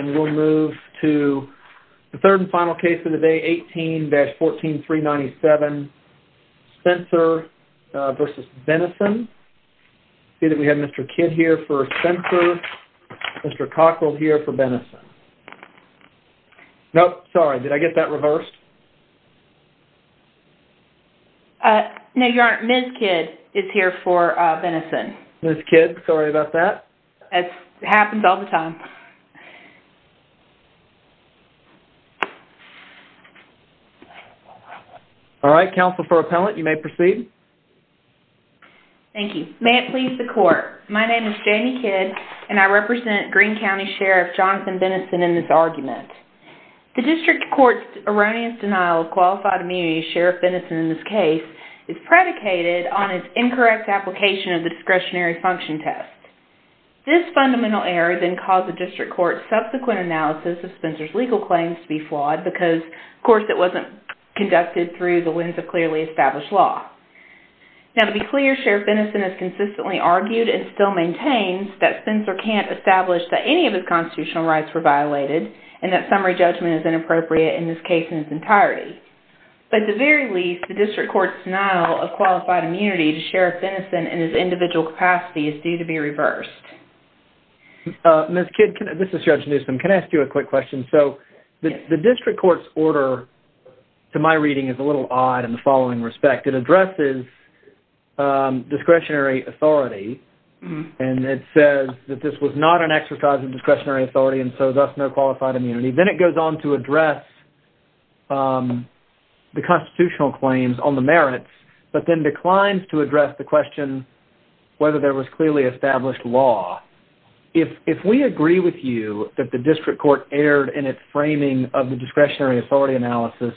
and we'll move to the third and final case of the day, 18-14397, Spencer v. Benison. I see that we have Mr. Kidd here for Spencer, Mr. Cockrell here for Benison. Nope, sorry, did I get that reversed? No, you aren't. Ms. Kidd is here for Benison. Ms. Kidd, sorry about that. It happens all the time. Alright, counsel for appellant, you may proceed. Thank you. May it please the court, my name is Jamie Kidd and I represent Green County Sheriff Jonathan Benison in this argument. The district court's erroneous denial of qualified immunity to Sheriff Benison in this case is predicated on his incorrect application of the discretionary function test. This fundamental error then caused the district court's subsequent analysis of Spencer's legal claims to be flawed because, of course, it wasn't conducted through the lens of clearly established law. Now, to be clear, Sheriff Benison has consistently argued and still maintains that Spencer can't establish that any of his constitutional rights were violated and that summary judgment is inappropriate in this case in its entirety. At the very least, the district court's denial of qualified immunity to Sheriff Benison in his individual capacity is due to be reversed. Ms. Kidd, this is Judge Newsom, can I ask you a quick question? So, the district court's order to my reading is a little odd in the following respect. It addresses discretionary authority and it says that this was not an exercise of discretionary authority and so thus no qualified immunity. Then it goes on to address the constitutional claims on the merits, but then declines to address the question whether there was clearly established law. If we agree with you that the district court erred in its framing of the discretionary authority analysis,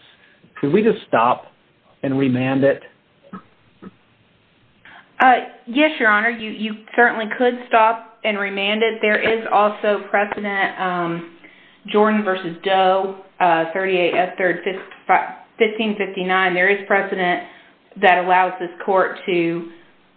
could we just stop and remand it? Yes, Your Honor, you certainly could stop and remand it. There is also precedent, Jordan v. Doe, 38 S. 3rd, 1559, there is precedent that allows this court to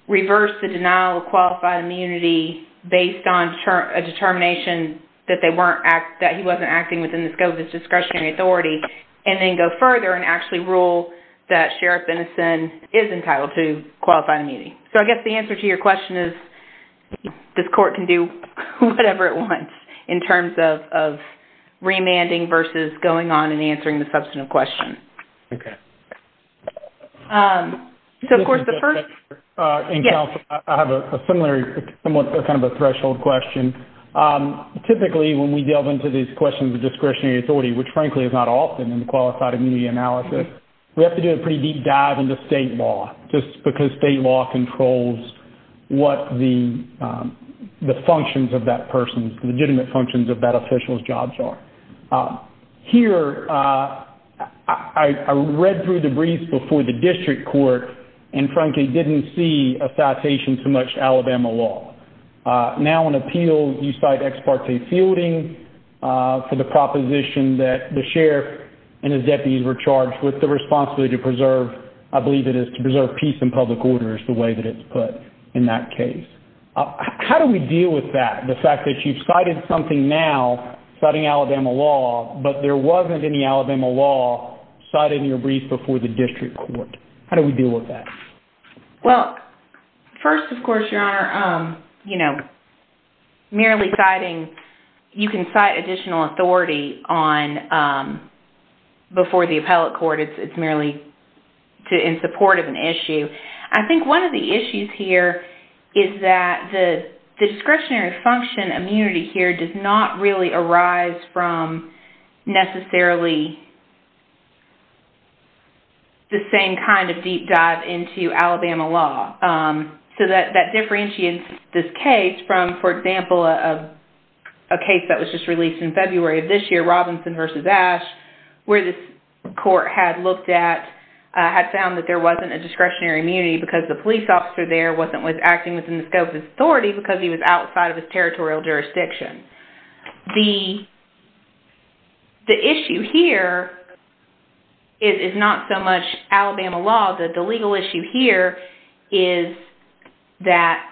reverse the denial of qualified immunity based on a determination that he wasn't acting within the scope of his discretionary authority. And then go further and actually rule that Sheriff Benison is entitled to qualified immunity. So, I guess the answer to your question is this court can do whatever it wants in terms of remanding versus going on and answering the substantive question. Okay. So, of course, the first- I have a similar, somewhat kind of a threshold question. Typically, when we delve into these questions of discretionary authority, which frankly is not often in the qualified immunity analysis, we have to do a pretty deep dive into state law. Just because state law controls what the functions of that person's, legitimate functions of that official's jobs are. Here, I read through the briefs before the district court and frankly didn't see a citation to much Alabama law. Now in appeals, you cite ex parte fielding for the proposition that the sheriff and his deputies were charged with the responsibility to preserve, I believe it is to preserve peace and public order is the way that it's put in that case. How do we deal with that? The fact that you've cited something now, citing Alabama law, but there wasn't any Alabama law cited in your brief before the district court. How do we deal with that? Well, first, of course, your honor, merely citing, you can cite additional authority on before the appellate court. It's merely in support of an issue. I think one of the issues here is that the discretionary function immunity here does not really arise from necessarily the same kind of deep dive into Alabama law. So that differentiates this case from, for example, a case that was just released in where the court had looked at, had found that there wasn't a discretionary immunity because the police officer there wasn't acting within the scope of his authority because he was outside of his territorial jurisdiction. The issue here is not so much Alabama law, the legal issue here is that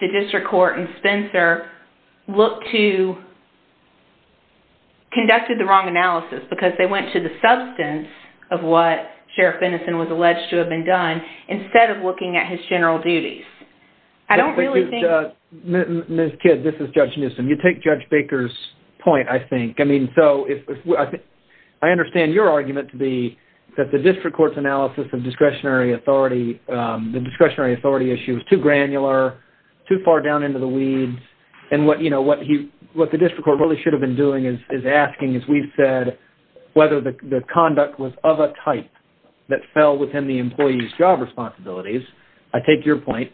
the district court and Spencer conducted the wrong analysis because they went to the substance of what Sheriff Innocent was alleged to have been done instead of looking at his general duties. I don't really think... Ms. Kidd, this is Judge Newsom. You take Judge Baker's point, I think. I understand your argument to be that the district court's analysis of discretionary authority, the discretionary authority issue is too granular, too far down into the weeds. And what the district court really should have been doing is asking, as we've said, whether the conduct was of a type that fell within the employee's job responsibilities. I take your point.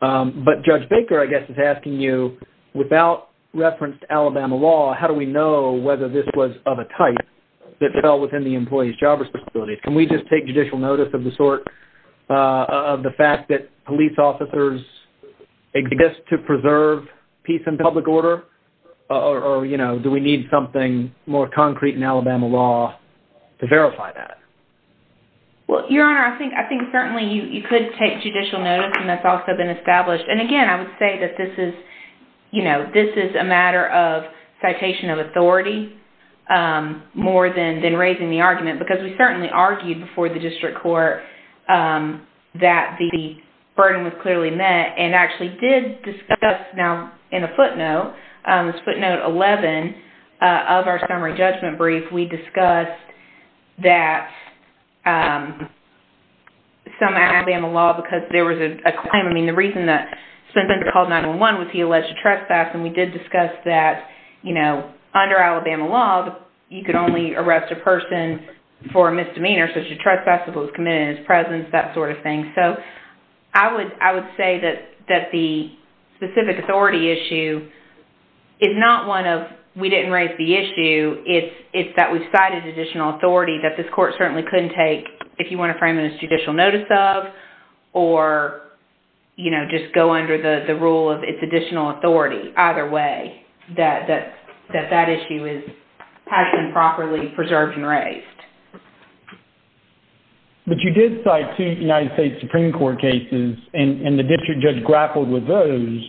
But Judge Baker, I guess, is asking you, without reference to Alabama law, how do we know whether this was of a type that fell within the employee's job responsibilities? Can we just take judicial notice of the sort of the fact that police officers exist to preserve peace and public order, or do we need something more concrete in Alabama law to verify that? Well, Your Honor, I think certainly you could take judicial notice, and that's also been established. And again, I would say that this is a matter of citation of authority more than raising the argument, because we certainly argued before the district court that the burden was clearly met, and actually did discuss now in a footnote, this footnote 11 of our summary judgment brief, we discussed that some Alabama law, because there was a claim, I mean, the reason that Spencer called 911 was he alleged to trespass, and we did discuss that, you know, under Alabama law, you could only arrest a person for a misdemeanor, so he should trespass if it was committed in his presence, that sort of thing. So I would say that the specific authority issue is not one of we didn't raise the issue, it's that we've cited additional authority that this court certainly couldn't take, if you want to frame it as judicial notice of, or, you know, just go under the rule of its additional authority, either way, that that issue has been properly preserved and raised. But you did cite two United States Supreme Court cases, and the district judge grappled with those,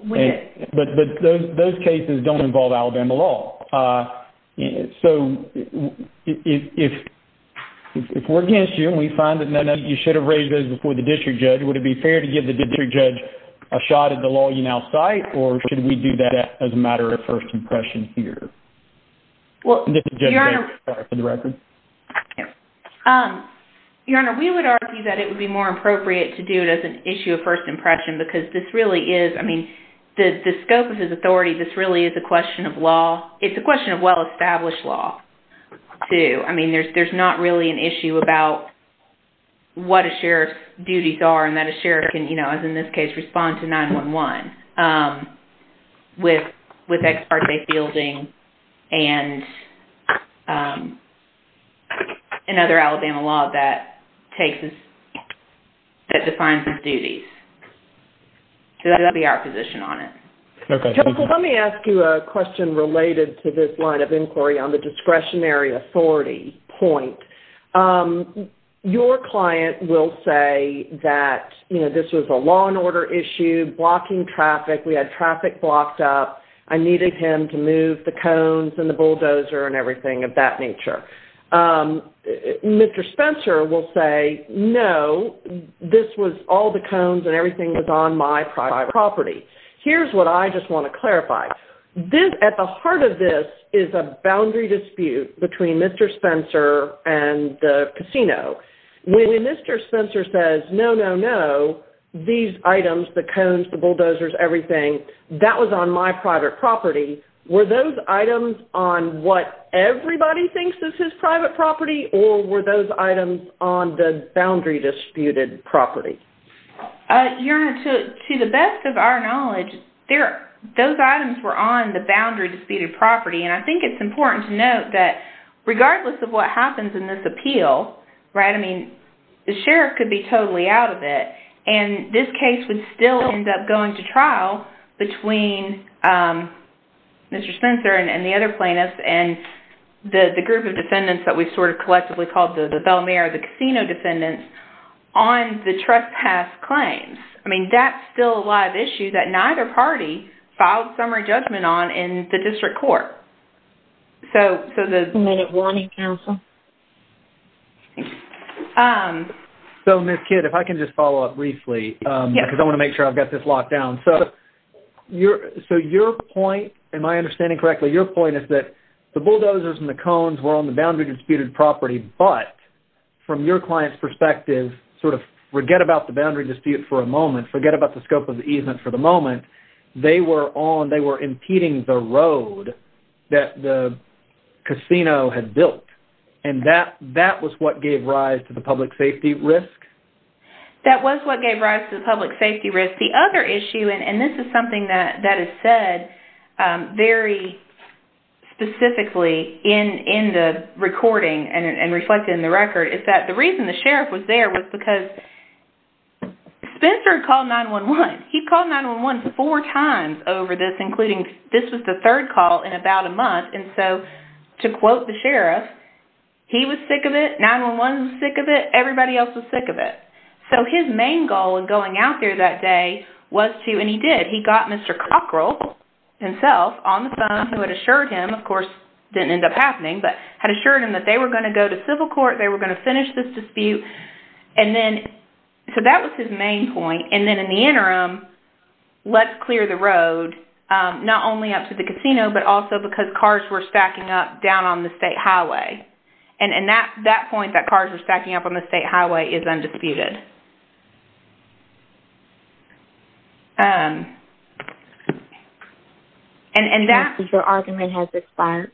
but those cases don't involve Alabama law. So if we're against you, and we find that you should have raised those before the district judge, would it be fair to give the district judge a shot at the law you now cite, or should we do that as a matter of first impression here? Well, Your Honor, we would argue that it would be more appropriate to do it as an issue of first impression, because this really is, I mean, the scope of his authority, this really is a question of law, it's a question of well-established law, too. I mean, there's not really an issue about what a sheriff's duties are, and that a sheriff can, you know, as in this case, respond to 9-1-1 with ex parte fielding and another Alabama law that defines his duties. So that would be our position on it. Okay, thank you. Let me ask you a question related to this line of inquiry on the discretionary authority point. Your client will say that, you know, this was a law and order issue, blocking traffic, we had traffic blocked up, I needed him to move the cones and the bulldozer and everything of that nature. Mr. Spencer will say, no, this was all the cones and everything was on my private property. Here's what I just want to clarify. At the heart of this is a boundary dispute between Mr. Spencer and the casino. When Mr. Spencer says, no, no, no, these items, the cones, the bulldozers, everything, that was on my private property, were those items on what everybody thinks is his private property, or were those items on the boundary disputed property? Your Honor, to the best of our knowledge, those items were on the boundary disputed property, and I think it's important to note that regardless of what happens in this appeal, right, I mean, the sheriff could be totally out of it, and this case would still end up going to trial between Mr. Spencer and the other plaintiffs and the group of defendants that we've sort of collectively called the Bellamere, the casino defendants, on the trespass claims. I mean, that's still a live issue that neither party filed summary judgment on in the district court. So the minute warning, counsel. So, Ms. Kidd, if I can just follow up briefly, because I want to make sure I've got this locked down. So your point, am I understanding correctly, your point is that the bulldozers and the cones were on the boundary disputed property, but from your client's perspective, sort of forget about the boundary dispute for a moment, forget about the scope of the easement for the moment, they were on, they were impeding the road that the casino had built, and that was what gave rise to the public safety risk? That was what gave rise to the public safety risk. The other issue, and this is something that is said very specifically in the recording and reflected in the record, is that the reason the sheriff was there was because Spencer called 9-1-1. He called 9-1-1 four times over this, including this was the third call in about a month, and so to quote the sheriff, he was sick of it, 9-1-1 was sick of it, everybody else was sick of it. So his main goal in going out there that day was to, and he did, he got Mr. Cockrell himself on the phone, who had assured him, of course, didn't end up happening, but had assured him that they were going to go to civil dispute, and then, so that was his main point, and then in the interim, let's clear the road, not only up to the casino, but also because cars were stacking up down on the state highway, and that point that cars were stacking up on the state highway is undisputed. And that argument has expired.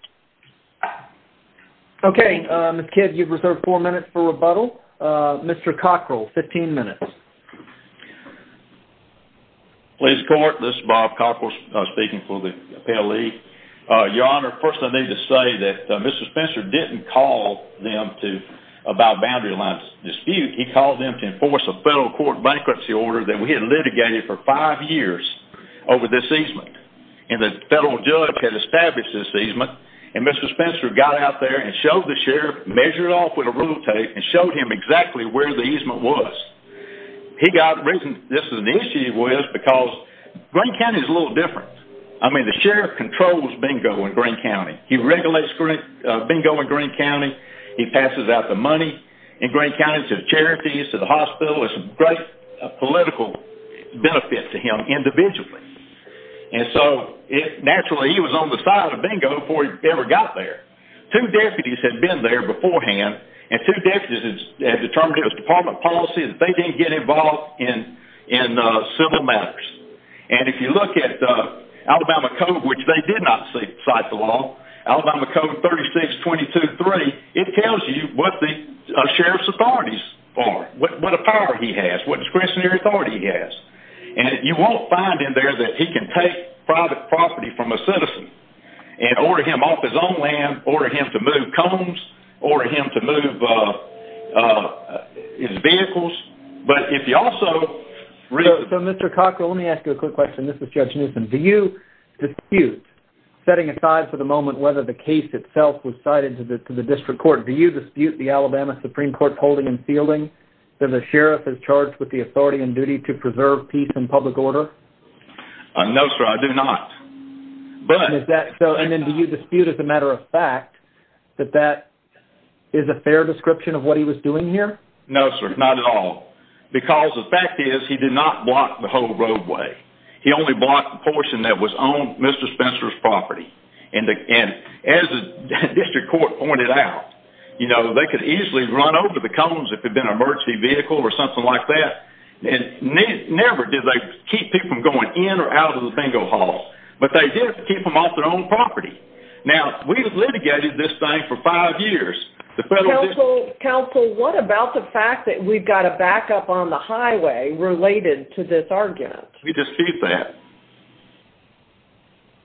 Okay, Ms. Kidd, you've reserved four minutes for rebuttal. Mr. Cockrell, 15 minutes. Please report, this is Bob Cockrell speaking for the appellate league. Your Honor, first I need to say that Mr. Spencer didn't call them to, about boundary line dispute, he called them to enforce a federal court bankruptcy order that we had litigated for five years over this easement, and the federal judge had established this easement, and Mr. Spencer got out there and showed the sheriff, measured it off with a rule tape, and showed him exactly where the easement was. He got, the reason this is an issue was because Greene County is a little different. I mean, the sheriff controls bingo in Greene County. He regulates bingo in Greene County, he passes out the money in Greene County to the charities, to the hospital, it's a great benefit to him individually. And so, naturally he was on the side of bingo before he ever got there. Two deputies had been there beforehand, and two deputies had determined it was department policy that they didn't get involved in civil matters. And if you look at Alabama code, which they did not cite the law, Alabama code 36223, it tells you what the sheriff's authorities are, what a he has, what discretionary authority he has. And you won't find in there that he can take private property from a citizen and order him off his own land, order him to move cones, order him to move his vehicles, but if you also- So Mr. Cockrell, let me ask you a quick question. This is Judge Newsom. Do you dispute, setting aside for the moment whether the case itself was cited to the district court, do you dispute the Alabama Supreme Court's holding and fielding that the sheriff is charged with the authority and duty to preserve peace and public order? No, sir, I do not. But- And is that so, and then do you dispute as a matter of fact that that is a fair description of what he was doing here? No, sir, not at all. Because the fact is he did not block the whole roadway. He only blocked the portion that was on Mr. Spencer's property. And as the district court pointed out, you know, they could easily run over the cones if it had been an emergency vehicle or something like that. And never did they keep people from going in or out of the bingo hall, but they did keep them off their own property. Now, we've litigated this thing for five years. The federal district- Counsel, what about the fact that we've got a backup on the highway related to this argument? We dispute that.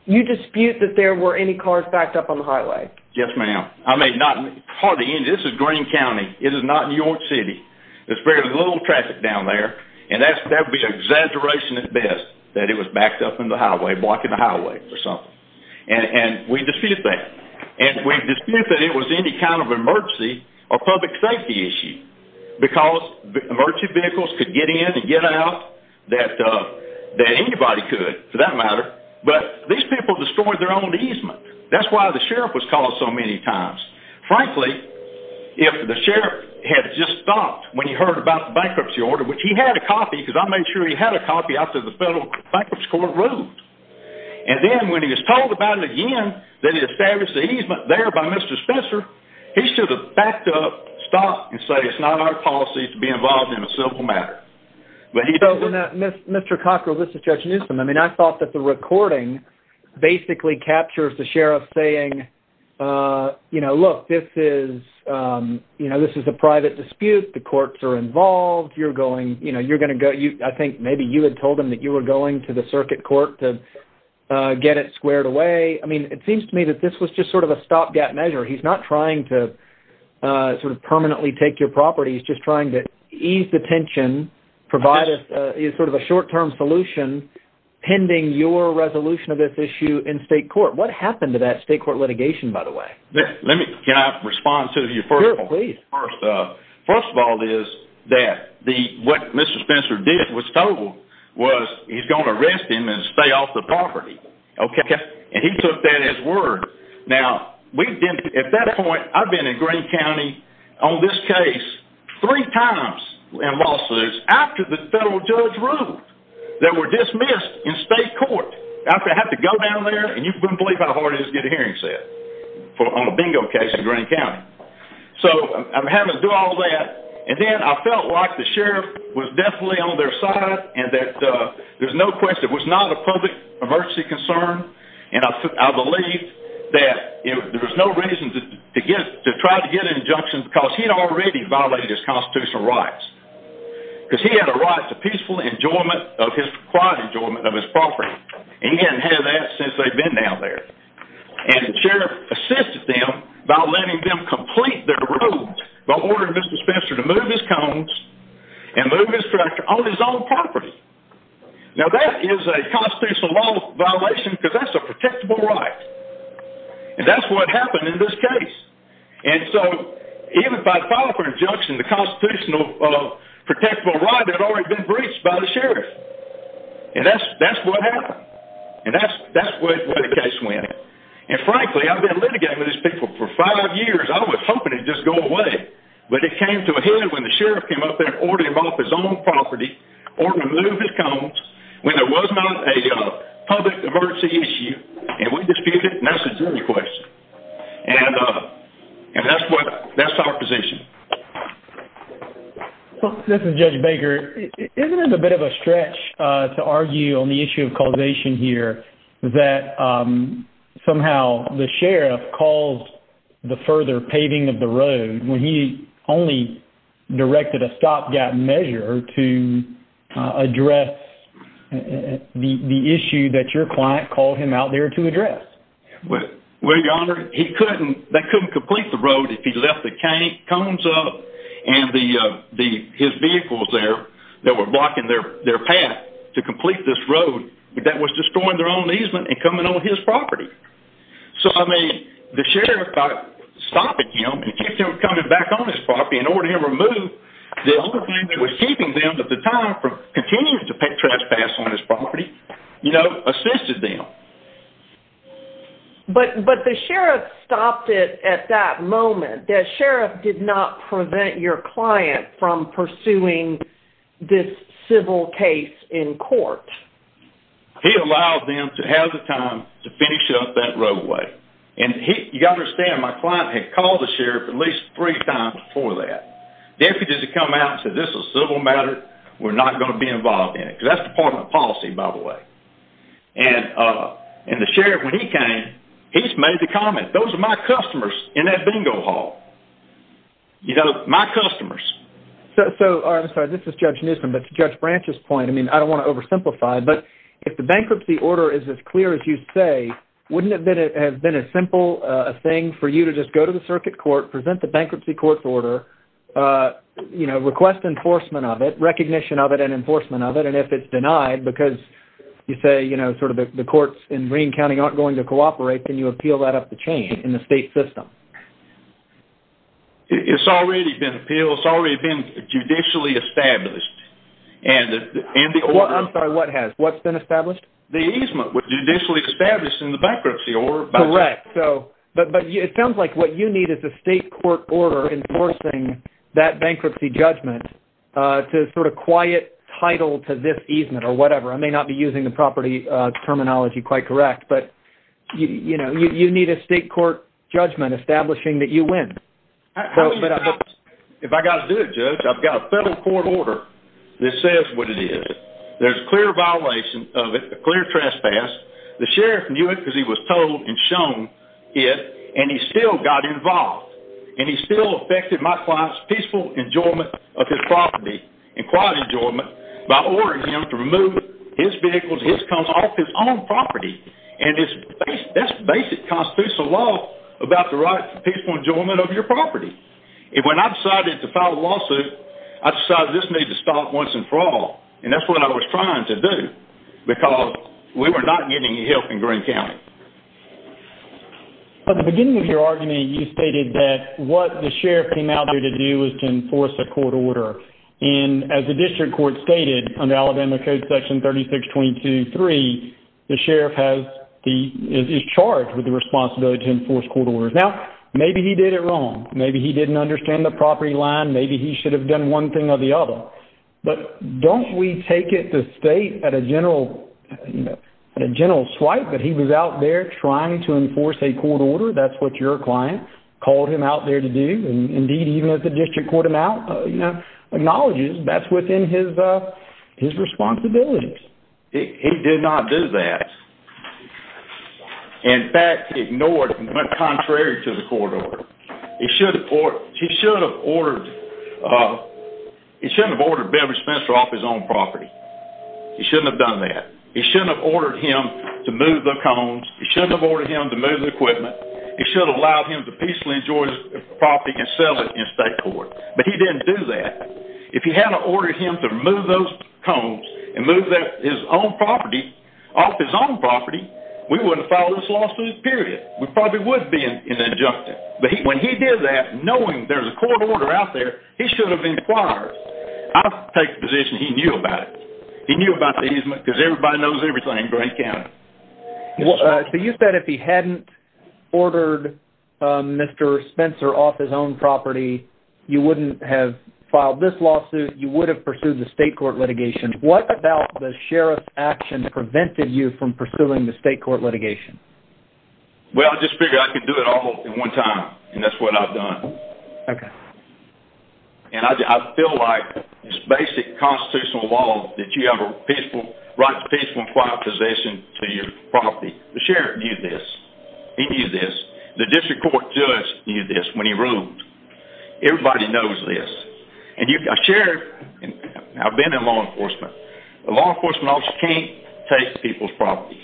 You dispute that there were any cars backed up on the highway? Yes, ma'am. I mean, not hardly any. This is Greene County. It is not New York City. There's very little traffic down there. And that would be an exaggeration at best, that it was backed up in the highway, blocking the highway or something. And we dispute that. And we dispute that it was any kind of emergency or public safety issue, because emergency vehicles could get in and get out that anybody could, for that matter. But these people destroyed their own easement. That's why the sheriff was called so many times. Frankly, if the sheriff had just stopped when he heard about the bankruptcy order, which he had a copy, because I made sure he had a copy after the federal bankruptcy court ruled. And then when he was told about it again, that he established the easement there by Mr. Spencer, he should have backed up, stopped, and said it's not our policy to be involved in a civil matter. So, Mr. Cockrell, this is Judge Newsom. I mean, I thought that the recording basically captures the sheriff saying, look, this is a private dispute. The courts are involved. I think maybe you had told him that you were going to the circuit court to get it squared away. I mean, it seems to me that this was just sort of a stopgap measure. He's not trying to permanently take your property. He's just trying to ease the tension, provide sort of a short-term solution pending your resolution of this issue in state court. What happened to that state court litigation, by the way? Can I respond to you first? Sure, please. First of all is that what Mr. Spencer did was told was he's going to arrest him and stay off the property. And he took that as word. Now, at that point, I've been in Greene County on this case three times in lawsuits after the federal judge ruled that were dismissed in state court. After I had to go down there, and you wouldn't believe how hard it is to get a hearing set on a bingo case in Greene County. So I'm having to do all that. And then I felt like the sheriff was definitely on their side and that there's no question it was not a public emergency concern. And I believe that there was no reason to try to get an injunction because he had already violated his constitutional rights. Because he had a right to peaceful enjoyment of his quiet enjoyment of his property. And he hadn't had that since they've been down there. And the sheriff assisted them by letting them complete their rules by ordering Mr. Spencer to move his cones and move his tractor on his own property. Now, that is a constitutional law violation, because that's a protectable right. And that's what happened in this case. And so, even by file for injunction, the constitutional protectable right had already been breached by the sheriff. And that's what happened. And that's where the case went. And frankly, I've been litigating with these people for five years. I was hoping to just go away. But it came to a head when the sheriff came up there, ordered him off his own property, ordered him to move his cones when there was not a public emergency issue. And we disputed it. And that's a jury question. And that's what that's our position. Well, this is Judge Baker. Isn't it a bit of a stretch to argue on the issue of causation here that somehow the sheriff caused the further paving of the road when he only directed a stopgap measure to address the issue that your client called him out there to address? Well, Your Honor, they couldn't complete the road if he left the cones up and his vehicles there that were blocking their path to complete this road that was destroying their own easement and coming on his property. So, I mean, the sheriff stopped him and kept him coming back on his property in order to remove the only thing that was keeping them at the time from continuing to pay trespass on his property, you know, assisted them. But the sheriff stopped it at that moment, the sheriff did not prevent your client from pursuing this civil case in court. He allowed them to have the time to finish up that roadway. And you got to understand, my client had called the sheriff at least three times before that. They could just come out and say, this is a civil matter. We're not going to be involved in it because that's Department of Policy, by the way. And the sheriff, when he came, he's made the comment, those are my customers in that bingo hall. You know, my customers. So, I'm sorry, this is Judge Newsom, but to Judge Branch's point, I mean, I don't want to oversimplify, but if the bankruptcy order is as clear as you say, wouldn't it have been a simple thing for you to just go to the circuit court, present the bankruptcy court's order, you know, request enforcement of it, recognition of it, and enforcement of it. And if it's denied because you say, you know, sort of the courts in Greene County aren't going to cooperate, then you appeal that up the chain in the state system. It's already been appealed. It's already been judicially established. And the order... I'm sorry, what has? What's been established? The easement was judicially established in the bankruptcy order. Correct. So, but it sounds like what you need is a state court order enforcing that bankruptcy judgment to sort of quiet title to this easement or whatever. I may not be using the property terminology quite correct, but, you know, you need a state court judgment establishing that you win. If I got to do it, Judge, I've got a federal court order that says what it is. There's a clear violation of it, a clear trespass. The sheriff knew it because he was told and shown it, and he still got involved. And he still affected my client's enjoyment of his property and quiet enjoyment by ordering him to remove his vehicles, his cars off his own property. And that's basic constitutional law about the right to peaceful enjoyment of your property. And when I decided to file a lawsuit, I decided this needed to stop once and for all. And that's what I was trying to do because we were not getting any help in Greene County. At the beginning of your argument, you stated that what the sheriff came out here to do was to enforce a court order. And as the district court stated under Alabama Code Section 3622.3, the sheriff is charged with the responsibility to enforce court orders. Now, maybe he did it wrong. Maybe he didn't understand the property line. Maybe he should have done one thing or the other. But don't we take it to state at a general swipe that he was out there trying to enforce a court order? That's what your client called him out there to do. And even as the district court acknowledges, that's within his responsibilities. He did not do that. In fact, he ignored and went contrary to the court order. He shouldn't have ordered Beverly Spencer off his own property. He shouldn't have done that. He shouldn't have ordered him to move the cones. He shouldn't have ordered him to move the equipment. He should have allowed him to peacefully enjoy his property and sell it in state court. But he didn't do that. If he had ordered him to move those cones and move his own property off his own property, we wouldn't file this lawsuit, period. We probably would be in the injunction. But when he did that, knowing there's a court order out there, he should have inquired. I'll take the position he knew about it. He knew about the easement because everybody knows everything in county. So you said if he hadn't ordered Mr. Spencer off his own property, you wouldn't have filed this lawsuit. You would have pursued the state court litigation. What about the sheriff's action prevented you from pursuing the state court litigation? Well, I just figured I could do it all in one time. And that's what I've done. Okay. And I feel like it's basic constitutional law that you have to write a peaceful and quiet position to your property. The sheriff knew this. He knew this. The district court judge knew this when he ruled. Everybody knows this. I've been in law enforcement. A law enforcement officer can't take people's property.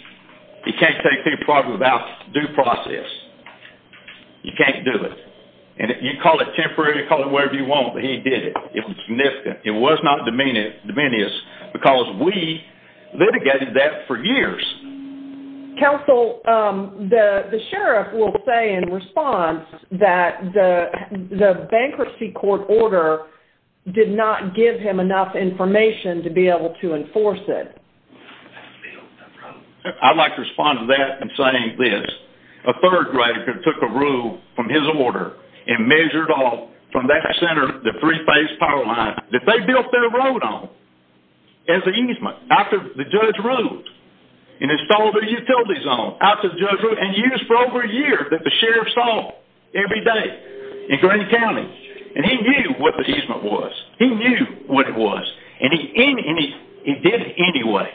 He can't take people's property without due process. You can't do it. And you call it temporary, you call it whatever you want, but he did it. It was significant. It was not dominious because we litigated that for years. Counsel, the sheriff will say in response that the bankruptcy court order did not give him enough information to be able to enforce it. I'd like to respond to that in saying this. A third grader took a rule from his order and measured off from that center the three-phase power line that they built their road on as an easement after the judge ruled and installed a utility zone after the judge ruled and used for over a year that the sheriff saw every day in Greene County. And he knew what the easement was. He knew what it was and he did it anyway.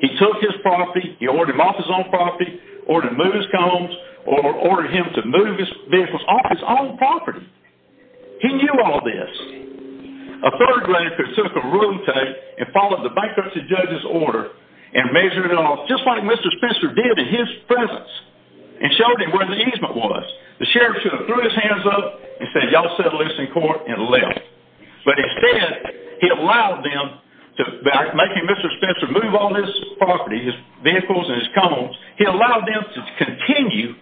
He took his property, he ordered him off his own property, ordered him to move his combs, ordered him to move his vehicles off his own property. He knew all this. A third grader took a rule and followed the bankruptcy judge's order and measured it off just like Mr. Spencer did in his presence and showed him where the easement was. The sheriff threw his hands up and said, y'all settle this in court and left. But instead, he allowed them to, by making Mr. Spencer move all this property, his vehicles and his combs, he allowed them to continue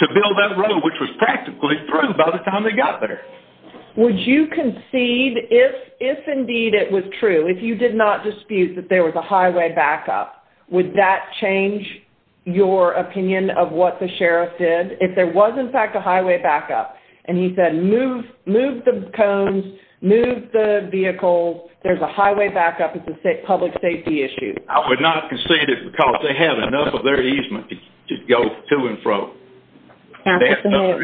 to build that road which was practically through by the time they got there. Would you concede if indeed it was true, if you did not dispute that there was a if there was in fact a highway backup, and he said move the combs, move the vehicles, there's a highway backup, it's a public safety issue? I would not concede it because they had enough of their easement to go to and fro. And they had enough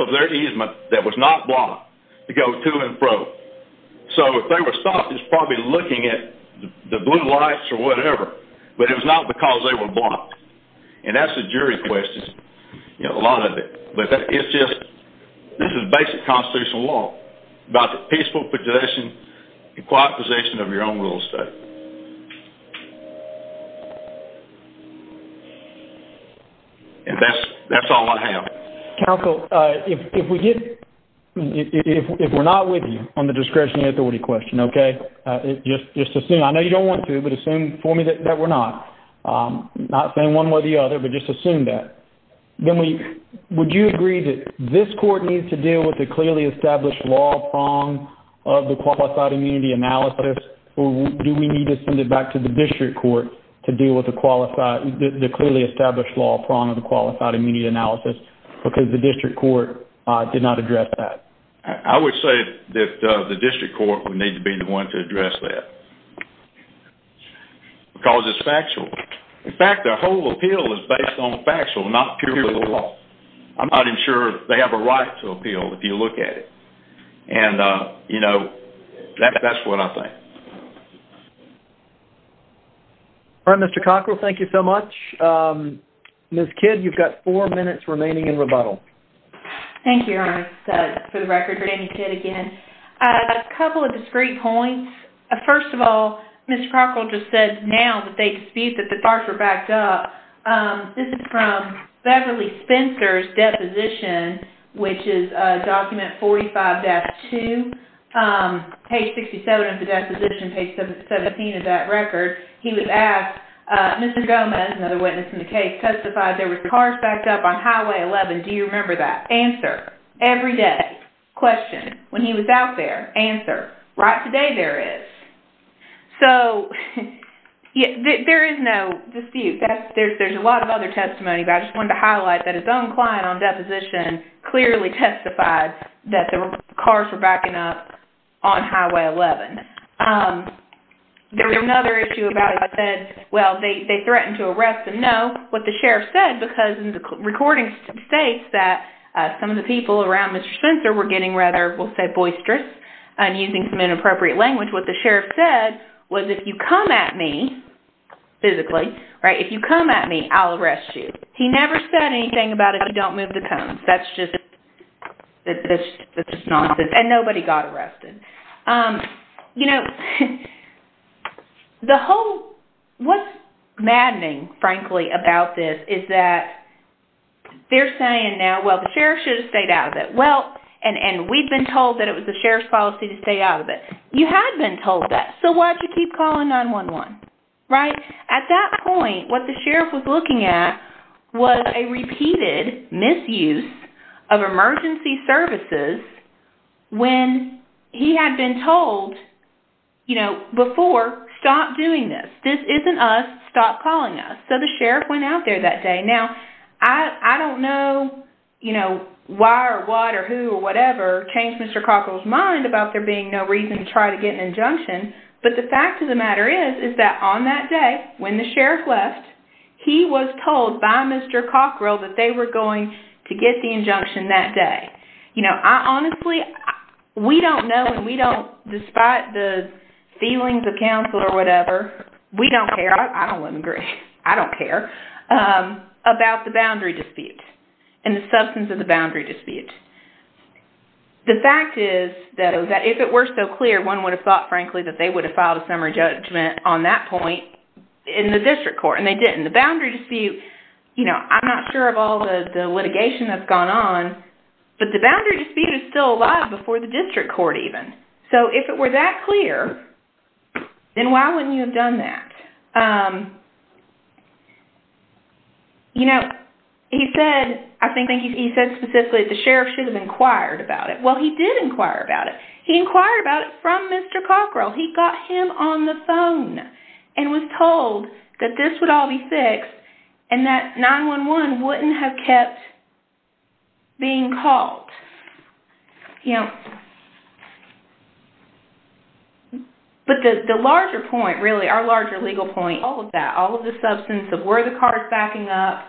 of their easement that was not blocked to go to and fro. So if they were stopped, it's probably looking at the blue lights or whatever, but it was not because they were blocked. And that's the jury question, you know, a lot of it. But it's just, this is basic constitutional law, about the peaceful possession and quiet possession of your own real estate. And that's, that's all I have. Counsel, if we get, if we're not with you on the discretion and authority question, okay, just assume, I know you don't want to, but assume for me that we're not. Not saying one way or the other, but just assume that. Then we, would you agree that this court needs to deal with the clearly established law prong of the Qualified Immunity Analysis, or do we need to send it back to the district court to deal with the Qualified, the clearly established law prong of the Qualified Immunity Analysis, because the district court did not address that? I would say that the district court would need to be the one to address that. Because it's factual. In fact, the whole appeal is based on the factual, not purely the law. I'm not even sure they have a right to appeal if you look at it. And, you know, that's what I think. All right, Mr. Cockrell, thank you so much. Ms. Kidd, you've got four minutes remaining in rebuttal. Thank you, Your Honor, for the record, for Amy Kidd again. A couple of discrete points. First of all, Mr. Cockrell just said now that they dispute that the cars were backed up. This is from Beverly Spencer's deposition, which is document 45-2, page 67 of the deposition, page 17 of that record. He was asked, Mr. Gomez, another witness in the case, testified there were cars backed up on Highway 11. Do you remember that? Answer. Every day. Question. When he was out there. Answer. Right today there is. So, yeah, there is no dispute. There's a lot of other testimonies. I just wanted to highlight that his own client on deposition clearly testified that the cars were backing up on Highway 11. There was another issue about it that said, well, they threatened to arrest him. What the sheriff said, because the recording states that some of the people around Mr. Spencer were getting rather, we'll say, boisterous and using some inappropriate language. What the sheriff said was, if you come at me, physically, right, if you come at me, I'll arrest you. He never said anything about if you don't move the cones. That's just, that's just nonsense. And nobody got arrested. You know, the whole, what's maddening, frankly, about this is that they're saying now, well, the sheriff should have stayed out of it. Well, and we've been told that it was the sheriff's policy to stay out of it. You had been told that. So why did you keep calling 9-1-1, right? At that point, what the sheriff was looking at was a repeated misuse of emergency services when he had been told, you know, before, stop doing this. This isn't us. Stop calling us. So the sheriff went out there that day. Now, I don't know, you know, why or what or who or whatever changed Mr. Cockrell's mind about there being no reason to try to get an injunction. But the fact of the matter is, is that on that day, when the sheriff left, he was told by Mr. Cockrell that they were going to get the injunction that day. You know, honestly, we don't know and we don't, despite the feelings of counsel or whatever, we don't care. I don't want to agree. I don't care about the boundary dispute and the substance of the boundary dispute. The fact is, though, that if it were so clear, one would have thought, frankly, that they would have filed a summary judgment on that point in the district court. And they didn't. The boundary dispute, you know, I'm not sure of all the litigation that's gone on, but the boundary dispute is still alive before the district court even. So if it were that clear, then why wouldn't you have done that? You know, he said, I think he said specifically the sheriff should have inquired about it. Well, he did inquire about it. He inquired about it from Mr. Cockrell. He got him on the phone and was told that this would all be fixed and that 9-1-1 wouldn't have kept being called, you know. But the larger point, really, our larger legal point, all of that, all of the substance of were the cars backing up,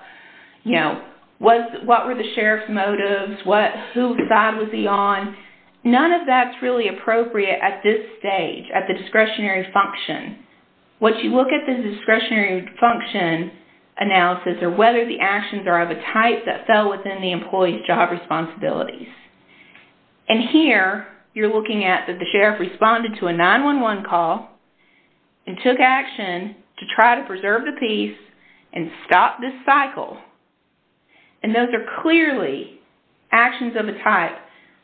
you know, was, what were the sheriff's motives, what, whose side was he on, none of that's really appropriate at this stage, at the discretionary function. Once you look at the discretionary function analysis or whether the actions are of a type that fell within the employee's job responsibilities. And here, you're looking at that the sheriff responded to a 9-1-1 call and took action to try to preserve the peace and stop this cycle. And those are clearly actions of a type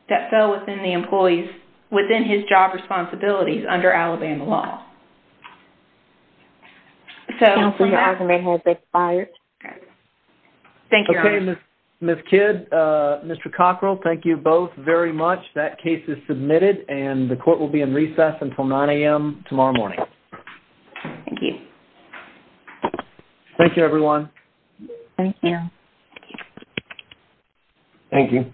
that fell within the employee's, within his job responsibilities under Alabama law. So... Counselor, your azimuth has expired. All right. Thank you. Okay, Ms. Kidd, Mr. Cockrell, thank you both very much. That case is submitted and the court will be in recess until 9 a.m. tomorrow morning. Thank you, everyone. Thank you. Thank you.